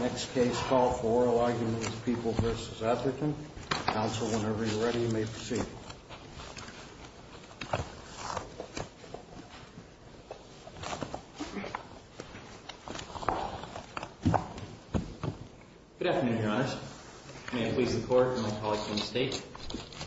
Next case, call for oral argument with People v. Etherton. Counsel, whenever you're ready, you may proceed. Good afternoon, Your Honors. May I please the Court and my colleagues from the State?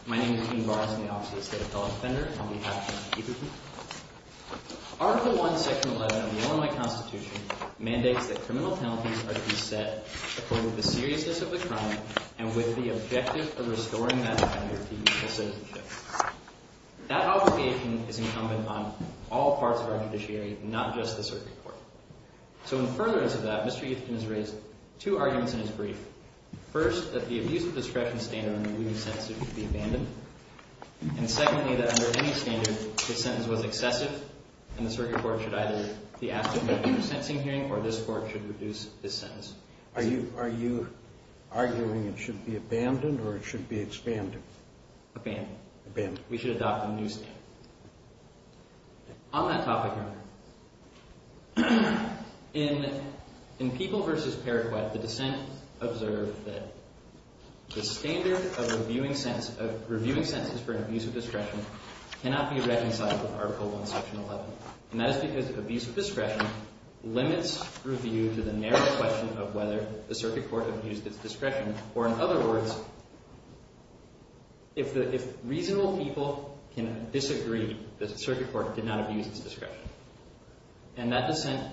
My name is Dean Bars and I'm the Office of the State Appellate Defender on behalf of Mr. Etherton. Article I, Section 11 of the Illinois Constitution mandates that criminal penalties are to be set according to the seriousness of the crime and with the objective of restoring that offender to his citizenship. That obligation is incumbent on all parts of our judiciary, not just the Circuit Court. So in furtherance of that, Mr. Etherton has raised two arguments in his brief. First, that the Abuse of Discretion standard on a new sentencing hearing should be abandoned. And secondly, that under any standard, this sentence was excessive and the Circuit Court should either deactivate the sentencing hearing or this Court should reduce this sentence. Are you arguing it should be abandoned or it should be expanded? Abandoned. Abandoned. We should adopt a new standard. On that topic, Your Honor, in People v. Periquet, the dissent observed that the standard of reviewing sentences for an Abuse of Discretion cannot be reconciled with Article I, Section 11. And that is because Abuse of Discretion limits review to the narrow question of whether the Circuit Court abused its discretion. Or in other words, if reasonable people can disagree that the Circuit Court did not abuse its discretion. And that dissent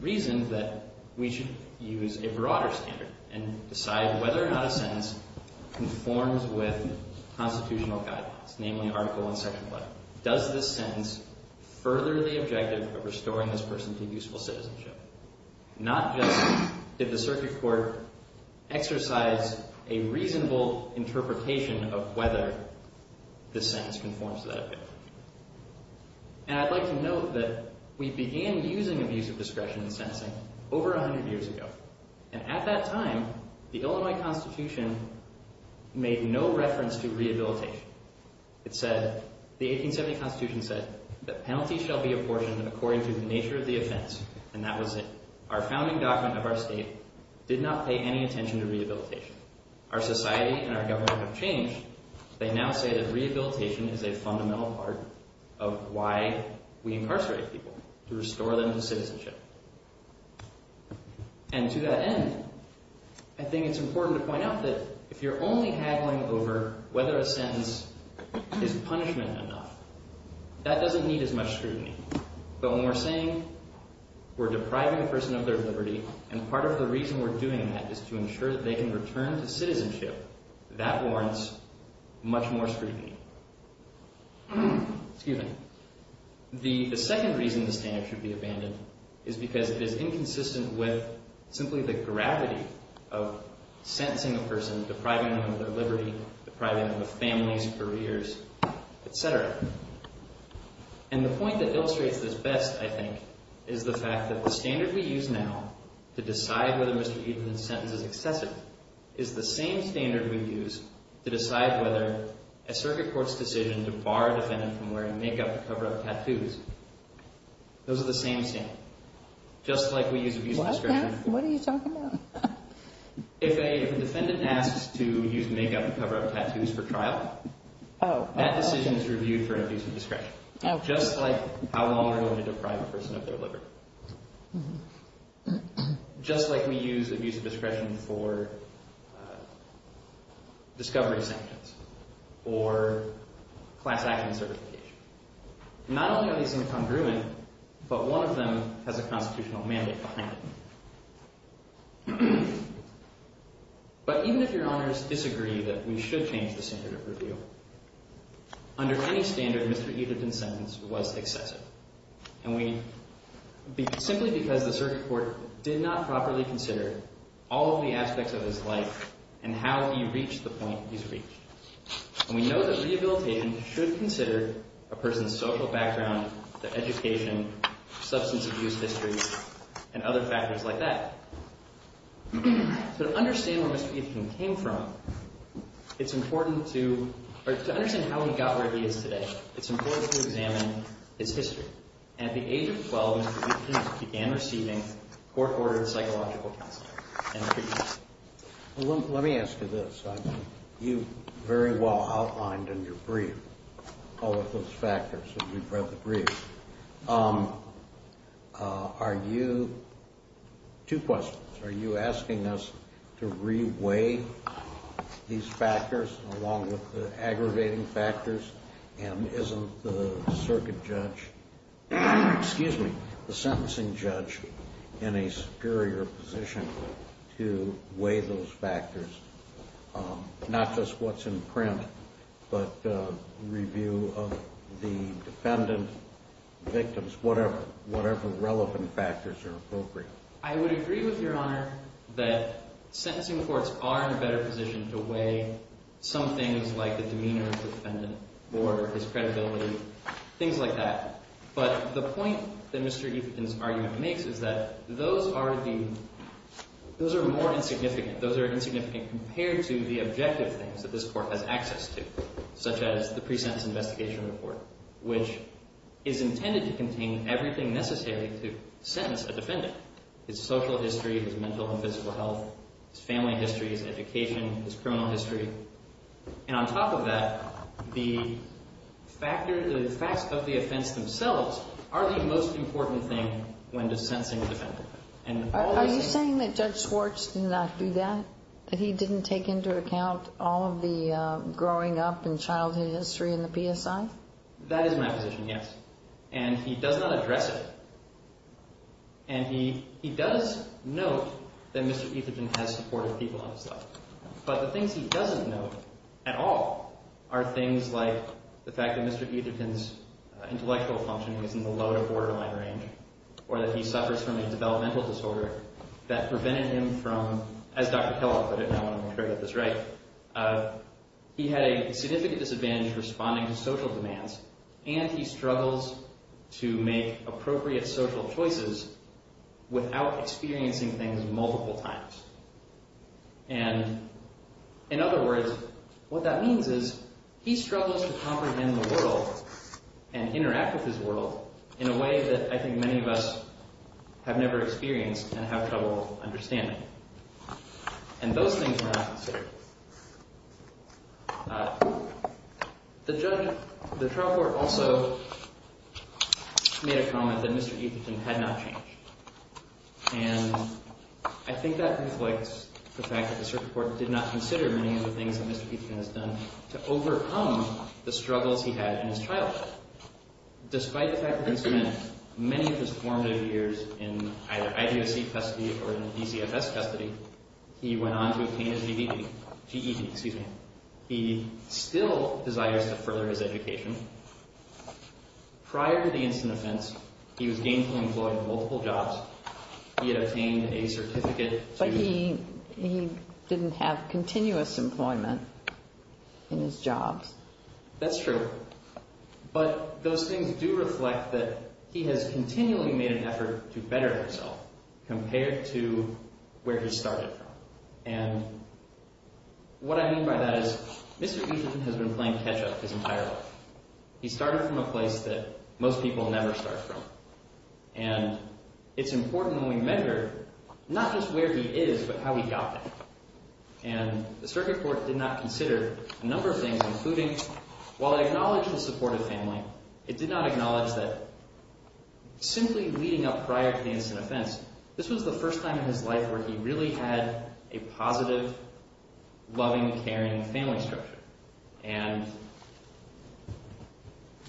reasoned that we should use a broader standard and decide whether or not a sentence conforms with constitutional guidelines, namely Article I, Section 11. Does this sentence further the objective of restoring this person to useful citizenship? Not just did the Circuit Court exercise a reasonable interpretation of whether this sentence conforms to that objective. And I'd like to note that we began using Abuse of Discretion in sentencing over 100 years ago. And at that time, the Illinois Constitution made no reference to rehabilitation. The 1870 Constitution said that penalty shall be apportioned according to the nature of the offense. And that was it. Our founding document of our state did not pay any attention to rehabilitation. Our society and our government have changed. They now say that rehabilitation is a fundamental part of why we incarcerate people, to restore them to citizenship. And to that end, I think it's important to point out that if you're only haggling over whether a sentence is punishment enough, that doesn't need as much scrutiny. But when we're saying we're depriving a person of their liberty, and part of the reason we're doing that is to ensure that they can return to citizenship, that warrants much more scrutiny. The second reason the standard should be abandoned is because it is inconsistent with simply the gravity of sentencing a person, depriving them of their liberty, depriving them of families, careers, et cetera. And the point that illustrates this best, I think, is the fact that the standard we use now to decide whether Mr. Edenton's sentence is excessive is the same standard we use to decide whether a circuit court's decision to bar a defendant from wearing make-up to cover up tattoos, those are the same standard. Just like we use abuse discretion. What? What are you talking about? If a defendant asks to use make-up to cover up tattoos for trial, that decision is reviewed for abuse of discretion. Just like how long we're going to deprive a person of their liberty. Just like we use abuse of discretion for discovery sanctions or class action certification. Not only are these incongruent, but one of them has a constitutional mandate behind it. But even if your honors disagree that we should change the standard of review, under any standard, Mr. Edenton's sentence was excessive. And we, simply because the circuit court did not properly consider all of the aspects of his life and how he reached the point he's reached. And we know that rehabilitation should consider a person's social background, their education, substance abuse history, and other factors like that. So to understand where Mr. Edenton came from, it's important to, or to understand how we got where he is today, it's important to examine his history. And at the age of 12, Mr. Edenton began receiving court-ordered psychological counseling. Let me ask you this. You very well outlined in your brief all of those factors when you read the brief. Are you, two questions, are you asking us to re-weigh these factors along with the aggravating factors? And isn't the circuit judge, excuse me, the sentencing judge in a superior position to weigh those factors? Not just what's in print, but review of the defendant, victims, whatever, whatever relevant factors are appropriate. I would agree with Your Honor that sentencing courts are in a better position to weigh some things like the demeanor of the defendant or his credibility, things like that. But the point that Mr. Edenton's argument makes is that those are the, those are more insignificant. Those are insignificant compared to the objective things that this Court has access to, such as the pre-sentence investigation report, which is intended to contain everything necessary to sentence a defendant. His social history, his mental and physical health, his family history, his education, his criminal history. And on top of that, the factor, the facts of the offense themselves are the most important thing when sentencing a defendant. Are you saying that Judge Schwartz did not do that? That he didn't take into account all of the growing up and childhood history in the PSI? That is my position, yes. And he does not address it. And he does note that Mr. Edenton has supportive people in his life. But the things he doesn't note at all are things like the fact that Mr. Edenton's intellectual functioning is in the lower borderline range or that he suffers from a developmental disorder that prevented him from, as Dr. Keller put it, and I want to make sure I get this right, he had a significant disadvantage responding to social demands, and he struggles to make appropriate social choices without experiencing things multiple times. And in other words, what that means is he struggles to comprehend the world and interact with his world in a way that I think many of us have never experienced and have trouble understanding. And those things were not considered. The trial court also made a comment that Mr. Edenton had not changed. And I think that reflects the fact that the circuit court did not consider many of the things that Mr. Edenton has done to overcome the struggles he had in his childhood. Despite the fact that he spent many of his formative years in either IBOC custody or in DCFS custody, he went on to obtain his GED. He still desires to further his education. Prior to the incident offense, he was gainfully employed in multiple jobs. He had obtained a certificate. But he didn't have continuous employment in his jobs. That's true. But those things do reflect that he has continually made an effort to better himself compared to where he started from. And what I mean by that is Mr. Edenton has been playing catch-up his entire life. He started from a place that most people never start from. And it's important that we measure not just where he is but how he got there. And the circuit court did not consider a number of things, including while it acknowledged his support of family, it did not acknowledge that simply leading up prior to the incident offense, this was the first time in his life where he really had a positive, loving, caring family structure. And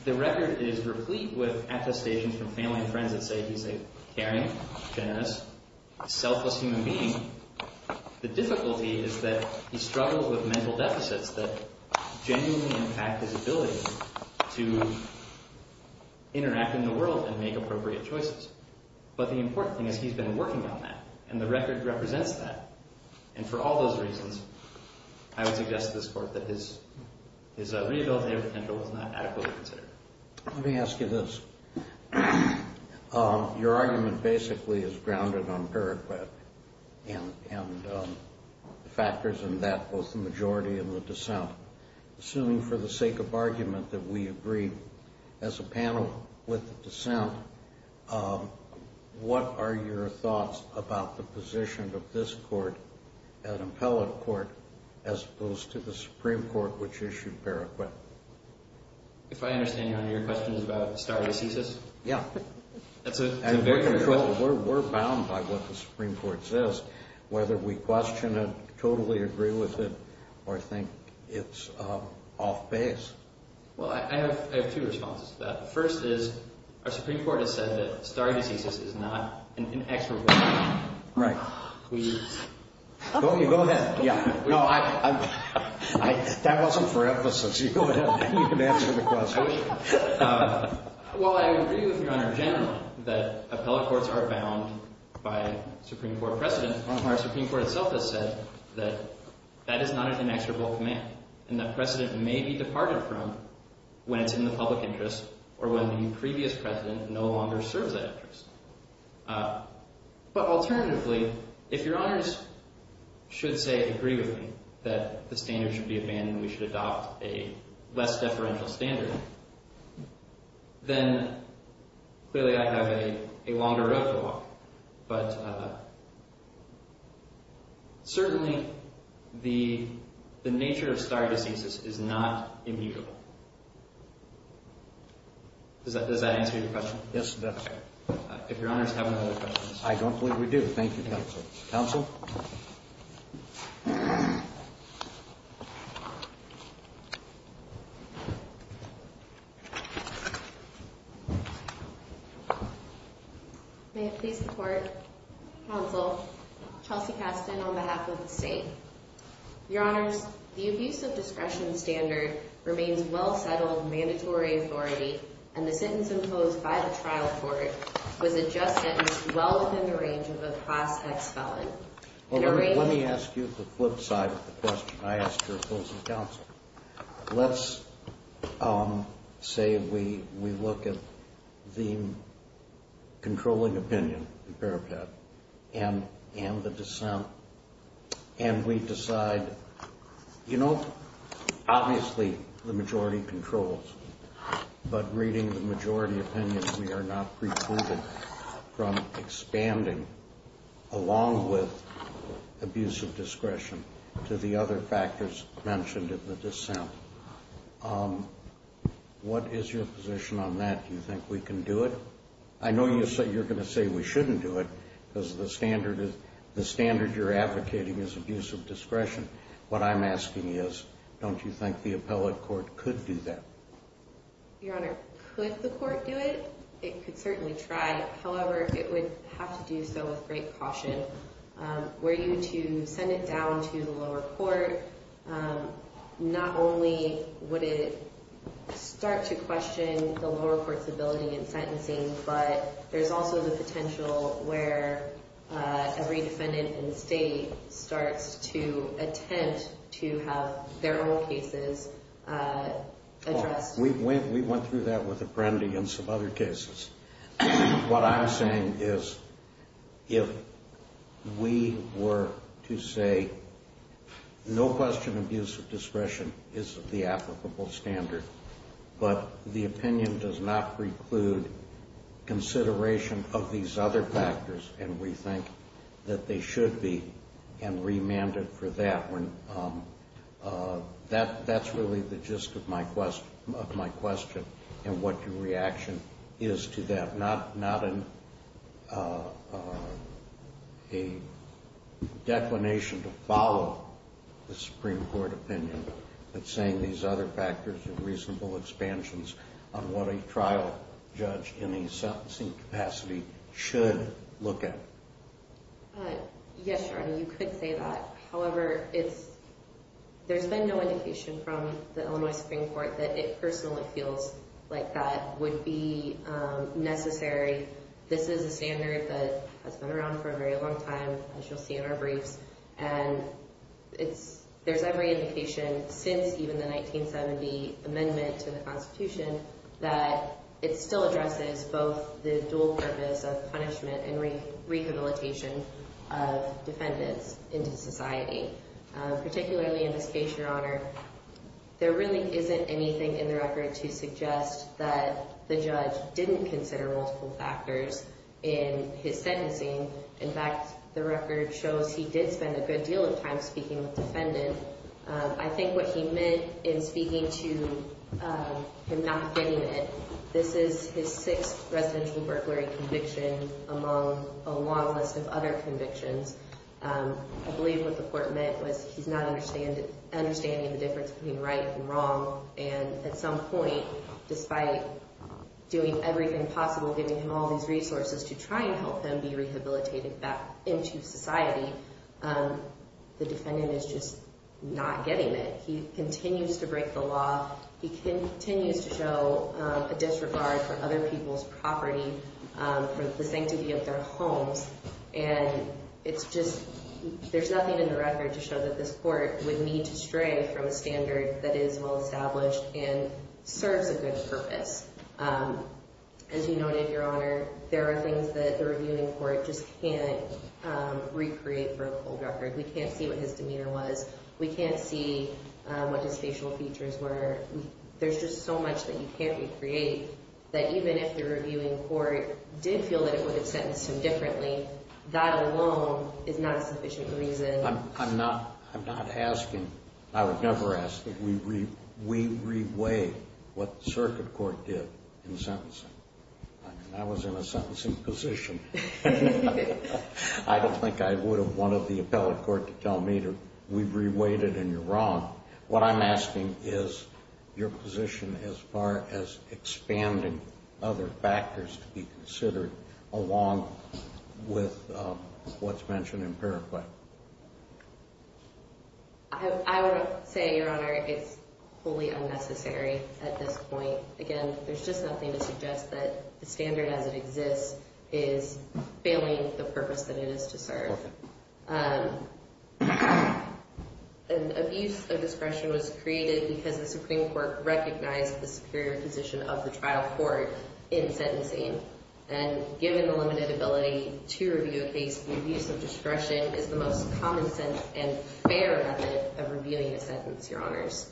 the record is replete with attestations from family and friends that say he's a caring, generous, selfless human being. The difficulty is that he struggles with mental deficits that genuinely impact his ability to interact in the world and make appropriate choices. But the important thing is he's been working on that, and the record represents that. And for all those reasons, I would suggest to this Court that his rehabilitative potential was not adequately considered. Let me ask you this. Your argument basically is grounded on Paragraph and the factors in that, both the majority and the dissent. Assuming for the sake of argument that we agree, as a panel with the dissent, what are your thoughts about the position of this Court, an appellate court, as opposed to the Supreme Court, which issued Paragraph? If I understand you, your question is about starting a thesis? Yeah. That's a very good question. We're bound by what the Supreme Court says. Whether we question it, totally agree with it, or think it's off base. Well, I have two responses to that. The first is our Supreme Court has said that starting a thesis is not an extra burden. Right. Go ahead. That wasn't for emphasis. You can answer the question. Well, I agree with Your Honor generally that appellate courts are bound by Supreme Court precedent. Our Supreme Court itself has said that that is not an inexorable command, and that precedent may be departed from when it's in the public interest or when the previous president no longer serves that interest. But alternatively, if Your Honors should, say, agree with me that the standard should be abandoned, we should adopt a less deferential standard, then clearly I have a longer road to walk. But certainly the nature of starting a thesis is not immutable. Does that answer your question? Yes, it does. Okay. If Your Honors have no other questions. I don't believe we do. Thank you, counsel. Counsel? May it please the Court? Counsel, Chelsea Casten on behalf of the State. Your Honors, the abuse of discretion standard remains well-settled mandatory authority, and the sentence imposed by the trial court was a just sentence well within the range of a class X felon. Let me ask you the flip side of the question I asked your opposing counsel. Let's say we look at the controlling opinion, the parapet, and the dissent, and we decide, you know, obviously the majority controls, but reading the majority opinion, we are not precluded from expanding, along with abuse of discretion, to the other factors mentioned in the dissent. What is your position on that? Do you think we can do it? I know you're going to say we shouldn't do it because the standard you're advocating is abuse of discretion. What I'm asking is, don't you think the appellate court could do that? Your Honor, could the court do it? It could certainly try. However, it would have to do so with great caution. Were you to send it down to the lower court, not only would it start to question the lower court's ability in sentencing, but there's also the potential where every defendant in the State starts to attempt to have their own cases addressed. We went through that with Apprendi and some other cases. What I'm saying is, if we were to say, no question abuse of discretion is the applicable standard, but the opinion does not preclude consideration of these other factors, and we think that they should be, and remanded for that. That's really the gist of my question and what your reaction is to that. Not a declination to follow the Supreme Court opinion, but saying these other factors are reasonable expansions on what a trial judge in a sentencing capacity should look at. Yes, Your Honor, you could say that. However, there's been no indication from the Illinois Supreme Court that it personally feels like that would be necessary. This is a standard that has been around for a very long time, as you'll see in our briefs, and there's every indication since even the 1970 amendment to the Constitution that it still addresses both the dual purpose of punishment and rehabilitation of defendants into society. Particularly in this case, Your Honor, there really isn't anything in the record to suggest that the judge didn't consider multiple factors in his sentencing. In fact, the record shows he did spend a good deal of time speaking with defendants. I think what he meant in speaking to him not getting it, this is his sixth residential burglary conviction among a long list of other convictions. I believe what the court meant was he's not understanding the difference between right and wrong, and at some point, despite doing everything possible, giving him all these resources to try and help him be rehabilitated back into society, the defendant is just not getting it. He continues to break the law. He continues to show a disregard for other people's property, for the sanctity of their homes, and it's just, there's nothing in the record to show that this court would need to stray from a standard that is well established and serves a good purpose. As you noted, Your Honor, there are things that the reviewing court just can't recreate for a full record. We can't see what his demeanor was. We can't see what his facial features were. There's just so much that you can't recreate that even if the reviewing court did feel that it would have sentenced him differently, that alone is not a sufficient reason. I'm not asking, I would never ask that we re-weigh what the circuit court did in sentencing. I mean, I was in a sentencing position. I don't think I would have wanted the appellate court to tell me to re-weight it and you're wrong. What I'm asking is your position as far as expanding other factors to be considered along with what's mentioned in paraphrase. I would say, Your Honor, it's fully unnecessary at this point. Again, there's just nothing to suggest that the standard as it exists is failing the purpose that it is to serve. An abuse of discretion was created because the Supreme Court recognized the superior position of the trial court in sentencing. And given the limited ability to review a case, the abuse of discretion is the most common sense and fair method of reviewing a sentence, Your Honors.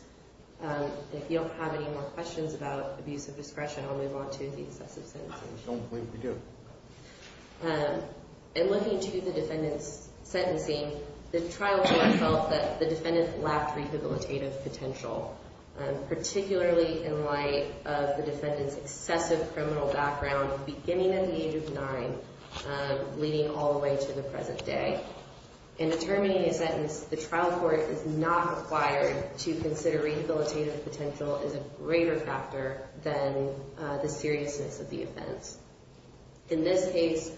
If you don't have any more questions about abuse of discretion, I'll move on to the excessive sentences. I don't believe we do. In looking to the defendant's sentencing, the trial court felt that the defendant lacked rehabilitative potential, particularly in light of the defendant's excessive criminal background beginning at the age of nine leading all the way to the present day. In determining a sentence, the trial court is not required to consider rehabilitative potential as a greater factor than the seriousness of the offense. In this case,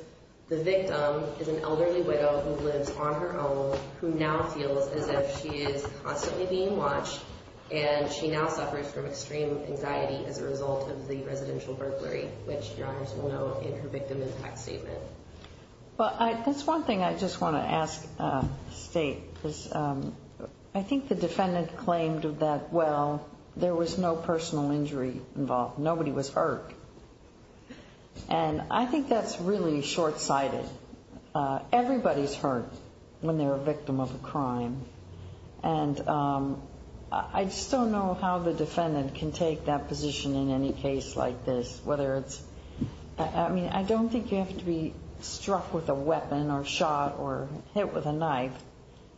the victim is an elderly widow who lives on her own who now feels as if she is constantly being watched and she now suffers from extreme anxiety as a result of the residential burglary, which Your Honors will know in her victim impact statement. Well, that's one thing I just want to ask State, because I think the defendant claimed that, well, there was no personal injury involved. Nobody was hurt. And I think that's really short-sighted. Everybody's hurt when they're a victim of a crime. And I just don't know how the defendant can take that position in any case like this, whether it's – I mean, I don't think you have to be struck with a weapon or shot or hit with a knife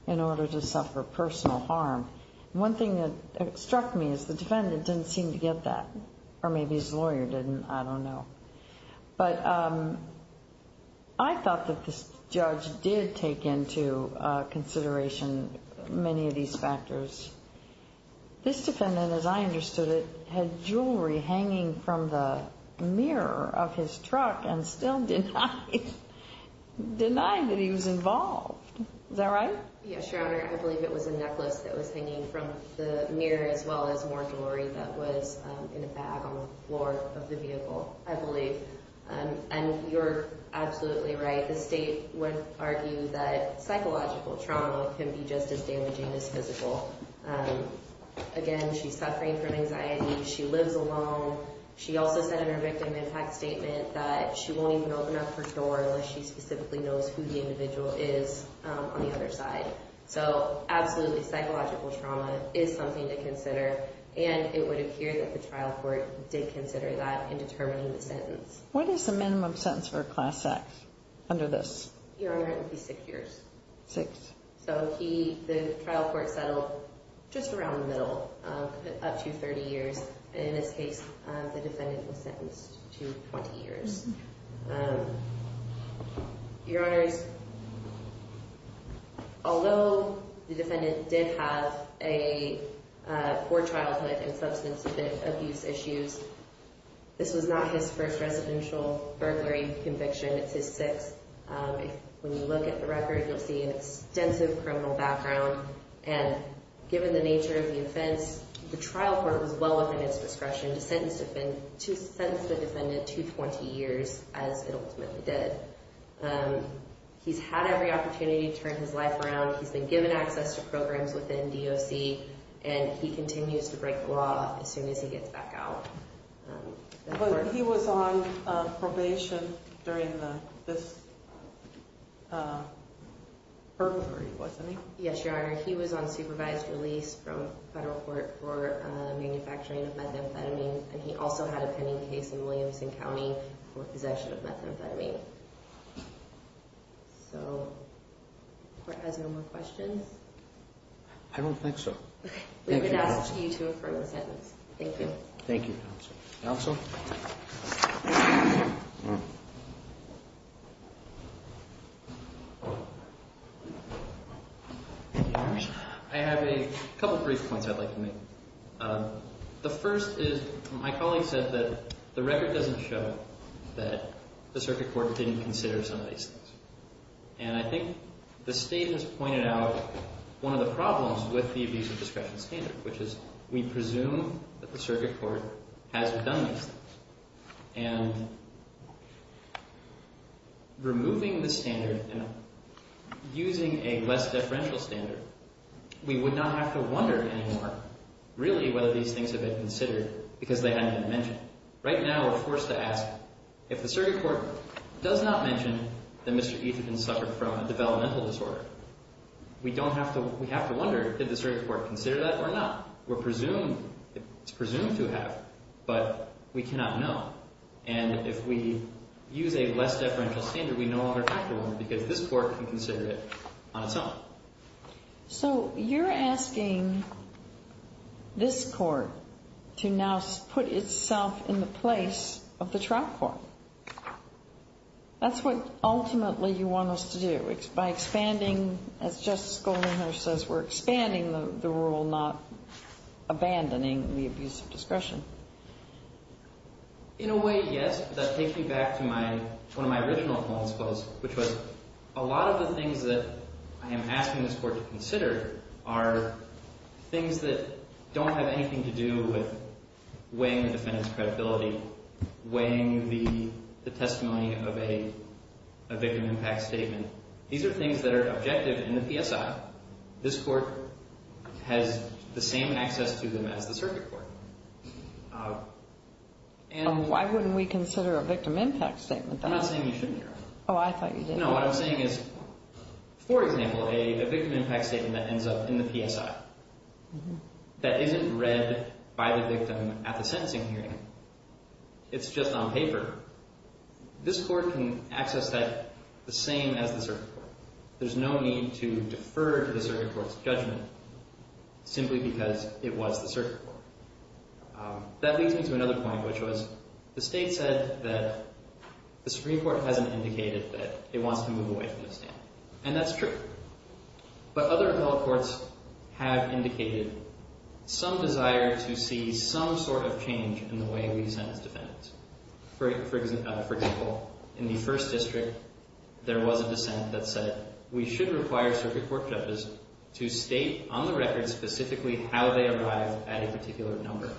in order to suffer personal harm. One thing that struck me is the defendant didn't seem to get that, or maybe his lawyer didn't. I don't know. But I thought that this judge did take into consideration many of these factors. This defendant, as I understood it, had jewelry hanging from the mirror of his truck and still denied that he was involved. Is that right? Yes, Your Honor. I believe it was a necklace that was hanging from the mirror as well as more jewelry that was in a bag on the floor of the vehicle, I believe. And you're absolutely right. The state would argue that psychological trauma can be just as damaging as physical. Again, she's suffering from anxiety. She lives alone. She also said in her victim impact statement that she won't even open up her door unless she specifically knows who the individual is on the other side. So absolutely, psychological trauma is something to consider. And it would appear that the trial court did consider that in determining the sentence. What is the minimum sentence for a class act under this? Your Honor, it would be six years. Six. So the trial court settled just around the middle, up to 30 years. In this case, the defendant was sentenced to 20 years. Your Honors, although the defendant did have a poor childhood and substance abuse issues, this was not his first residential burglary conviction. It's his sixth. When you look at the record, you'll see an extensive criminal background. And given the nature of the offense, the trial court was well within its discretion to sentence the defendant to 20 years. As it ultimately did. He's had every opportunity to turn his life around. He's been given access to programs within DOC. And he continues to break the law as soon as he gets back out. But he was on probation during this burglary, wasn't he? Yes, Your Honor. He was on supervised release from federal court for manufacturing of methamphetamine. And he also had a pending case in Williamson County for possession of methamphetamine. So, the court has no more questions? I don't think so. We would ask you to affirm the sentence. Thank you. Thank you, counsel. Counsel? I have a couple brief points I'd like to make. The first is my colleague said that the record doesn't show that the circuit court didn't consider some of these things. And I think the state has pointed out one of the problems with the abuse of discretion standard, which is we presume that the circuit court hasn't done these things. And removing the standard and using a less differential standard, we would not have to wonder anymore, really, whether these things have been considered because they hadn't been mentioned. Right now, we're forced to ask, if the circuit court does not mention that Mr. Etherton suffered from a developmental disorder, we have to wonder, did the circuit court consider that or not? We're presumed, it's presumed to have, but we cannot know. And if we use a less differential standard, we no longer have to wonder because this court can consider it on its own. So, you're asking this court to now put itself in the place of the trial court. That's what ultimately you want us to do, by expanding, as Justice Goldinghurst says, we're expanding the rule, not abandoning the abuse of discretion. In a way, yes. That takes me back to one of my original points, which was a lot of the things that I am asking this court to consider are things that don't have anything to do with weighing the defendant's credibility, weighing the testimony of a victim impact statement. These are things that are objective in the PSI. This court has the same access to them as the circuit court. Why wouldn't we consider a victim impact statement? I'm not saying you shouldn't, Your Honor. Oh, I thought you did. No, what I'm saying is, for example, a victim impact statement that ends up in the PSI, that isn't read by the victim at the sentencing hearing, it's just on paper. This court can access that the same as the circuit court. There's no need to defer to the circuit court's judgment simply because it was the circuit court. That leads me to another point, which was the state said that the Supreme Court hasn't indicated that it wants to move away from the stand. And that's true. But other appellate courts have indicated some desire to see some sort of change in the way we sentence defendants. For example, in the first district, there was a dissent that said we should require circuit court judges to state on the record specifically how they arrived at a particular number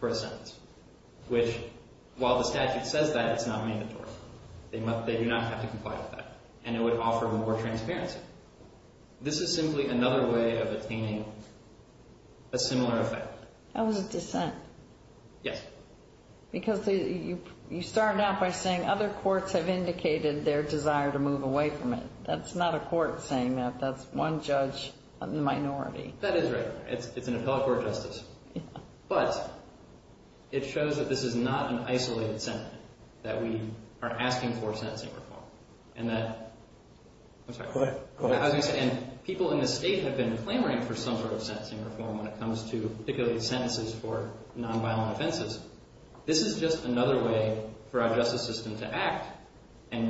for a sentence. Which, while the statute says that, it's not mandatory. They do not have to comply with that. And it would offer more transparency. This is simply another way of attaining a similar effect. That was a dissent. Yes. Because you started out by saying other courts have indicated their desire to move away from it. That's not a court saying that. That's one judge, a minority. That is right. It's an appellate court justice. But it shows that this is not an isolated sentence, that we are asking for sentencing reform. And that, I'm sorry. Go ahead. And people in this state have been clamoring for some sort of sentencing reform when it comes to particularly sentences for nonviolent offenses. This is just another way for our justice system to act and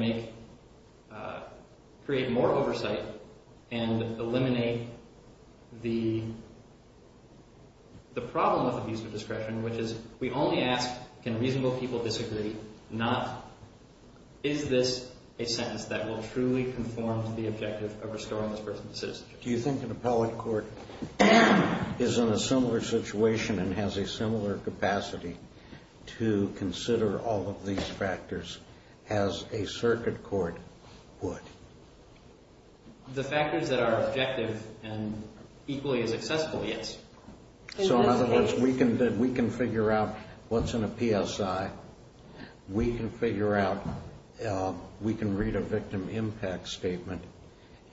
create more oversight and eliminate the problem of abuse of discretion, which is we only ask, can reasonable people disagree? Is this a sentence that will truly conform to the objective of restoring this person's citizenship? Do you think an appellate court is in a similar situation and has a similar capacity to consider all of these factors as a circuit court would? The factors that are objective and equally as accessible, yes. So in other words, we can figure out what's in a PSI. We can figure out, we can read a victim impact statement,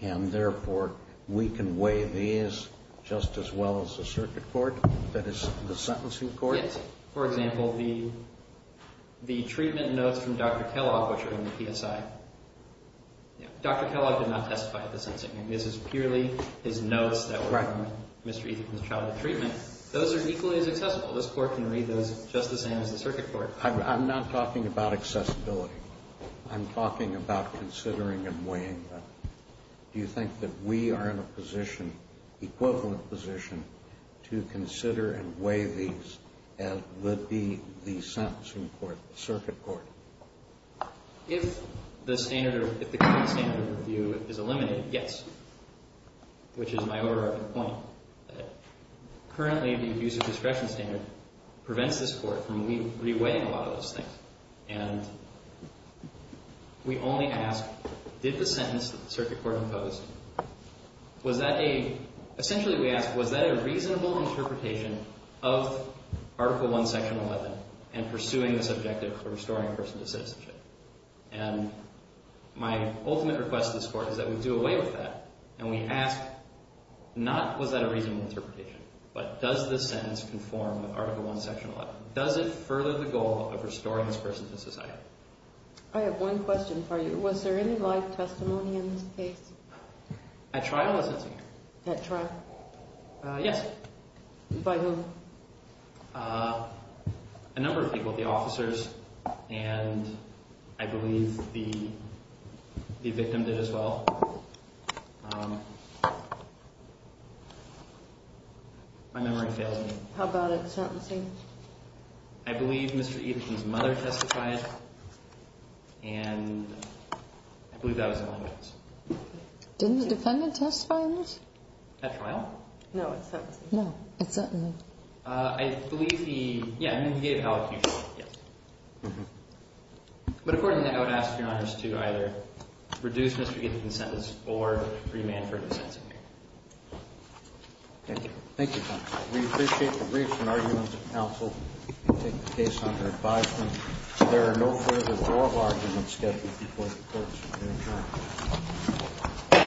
and therefore, we can weigh these just as well as a circuit court, that is, the sentencing court? Yes. For example, the treatment notes from Dr. Kellogg, which are in the PSI. Dr. Kellogg did not testify at the sentencing. This is purely his notes that were from Mr. Ethikon's childhood treatment. Those are equally as accessible. This court can read those just the same as the circuit court. I'm not talking about accessibility. I'm talking about considering and weighing them. Do you think that we are in a position, equivalent position, to consider and weigh these as would be the sentencing court, the circuit court? If the current standard of review is eliminated, yes, which is my overarching point. Currently, the abuser discretion standard prevents this court from re-weighing a lot of those things. And we only ask, did the sentence that the circuit court imposed, was that a, essentially we ask, was that a reasonable interpretation of Article I, Section 11 and pursuing this objective for restoring a person to citizenship? And my ultimate request to this court is that we do away with that and we ask, not was that a reasonable interpretation, but does this sentence conform with Article I, Section 11? Does it further the goal of restoring this person to society? I have one question for you. Was there any live testimony in this case? At trial, was it, Senator? At trial? Yes. By whom? A number of people, the officers, and I believe the victim did as well. My memory fails me. How about at sentencing? I believe Mr. Eden's mother testified, and I believe that was in all evidence. Didn't the defendant testify in this? At trial? No, at sentencing. No, at sentencing. I believe he, yeah, I mean, he gave allocution. Yes. But according to that, I would ask Your Honors to either reduce Mr. Eden's sentence or remand for dissent. Thank you. Thank you, counsel. We appreciate the briefs and arguments of counsel and take the case under advisement. There are no further oral arguments scheduled before the courts in the hearing.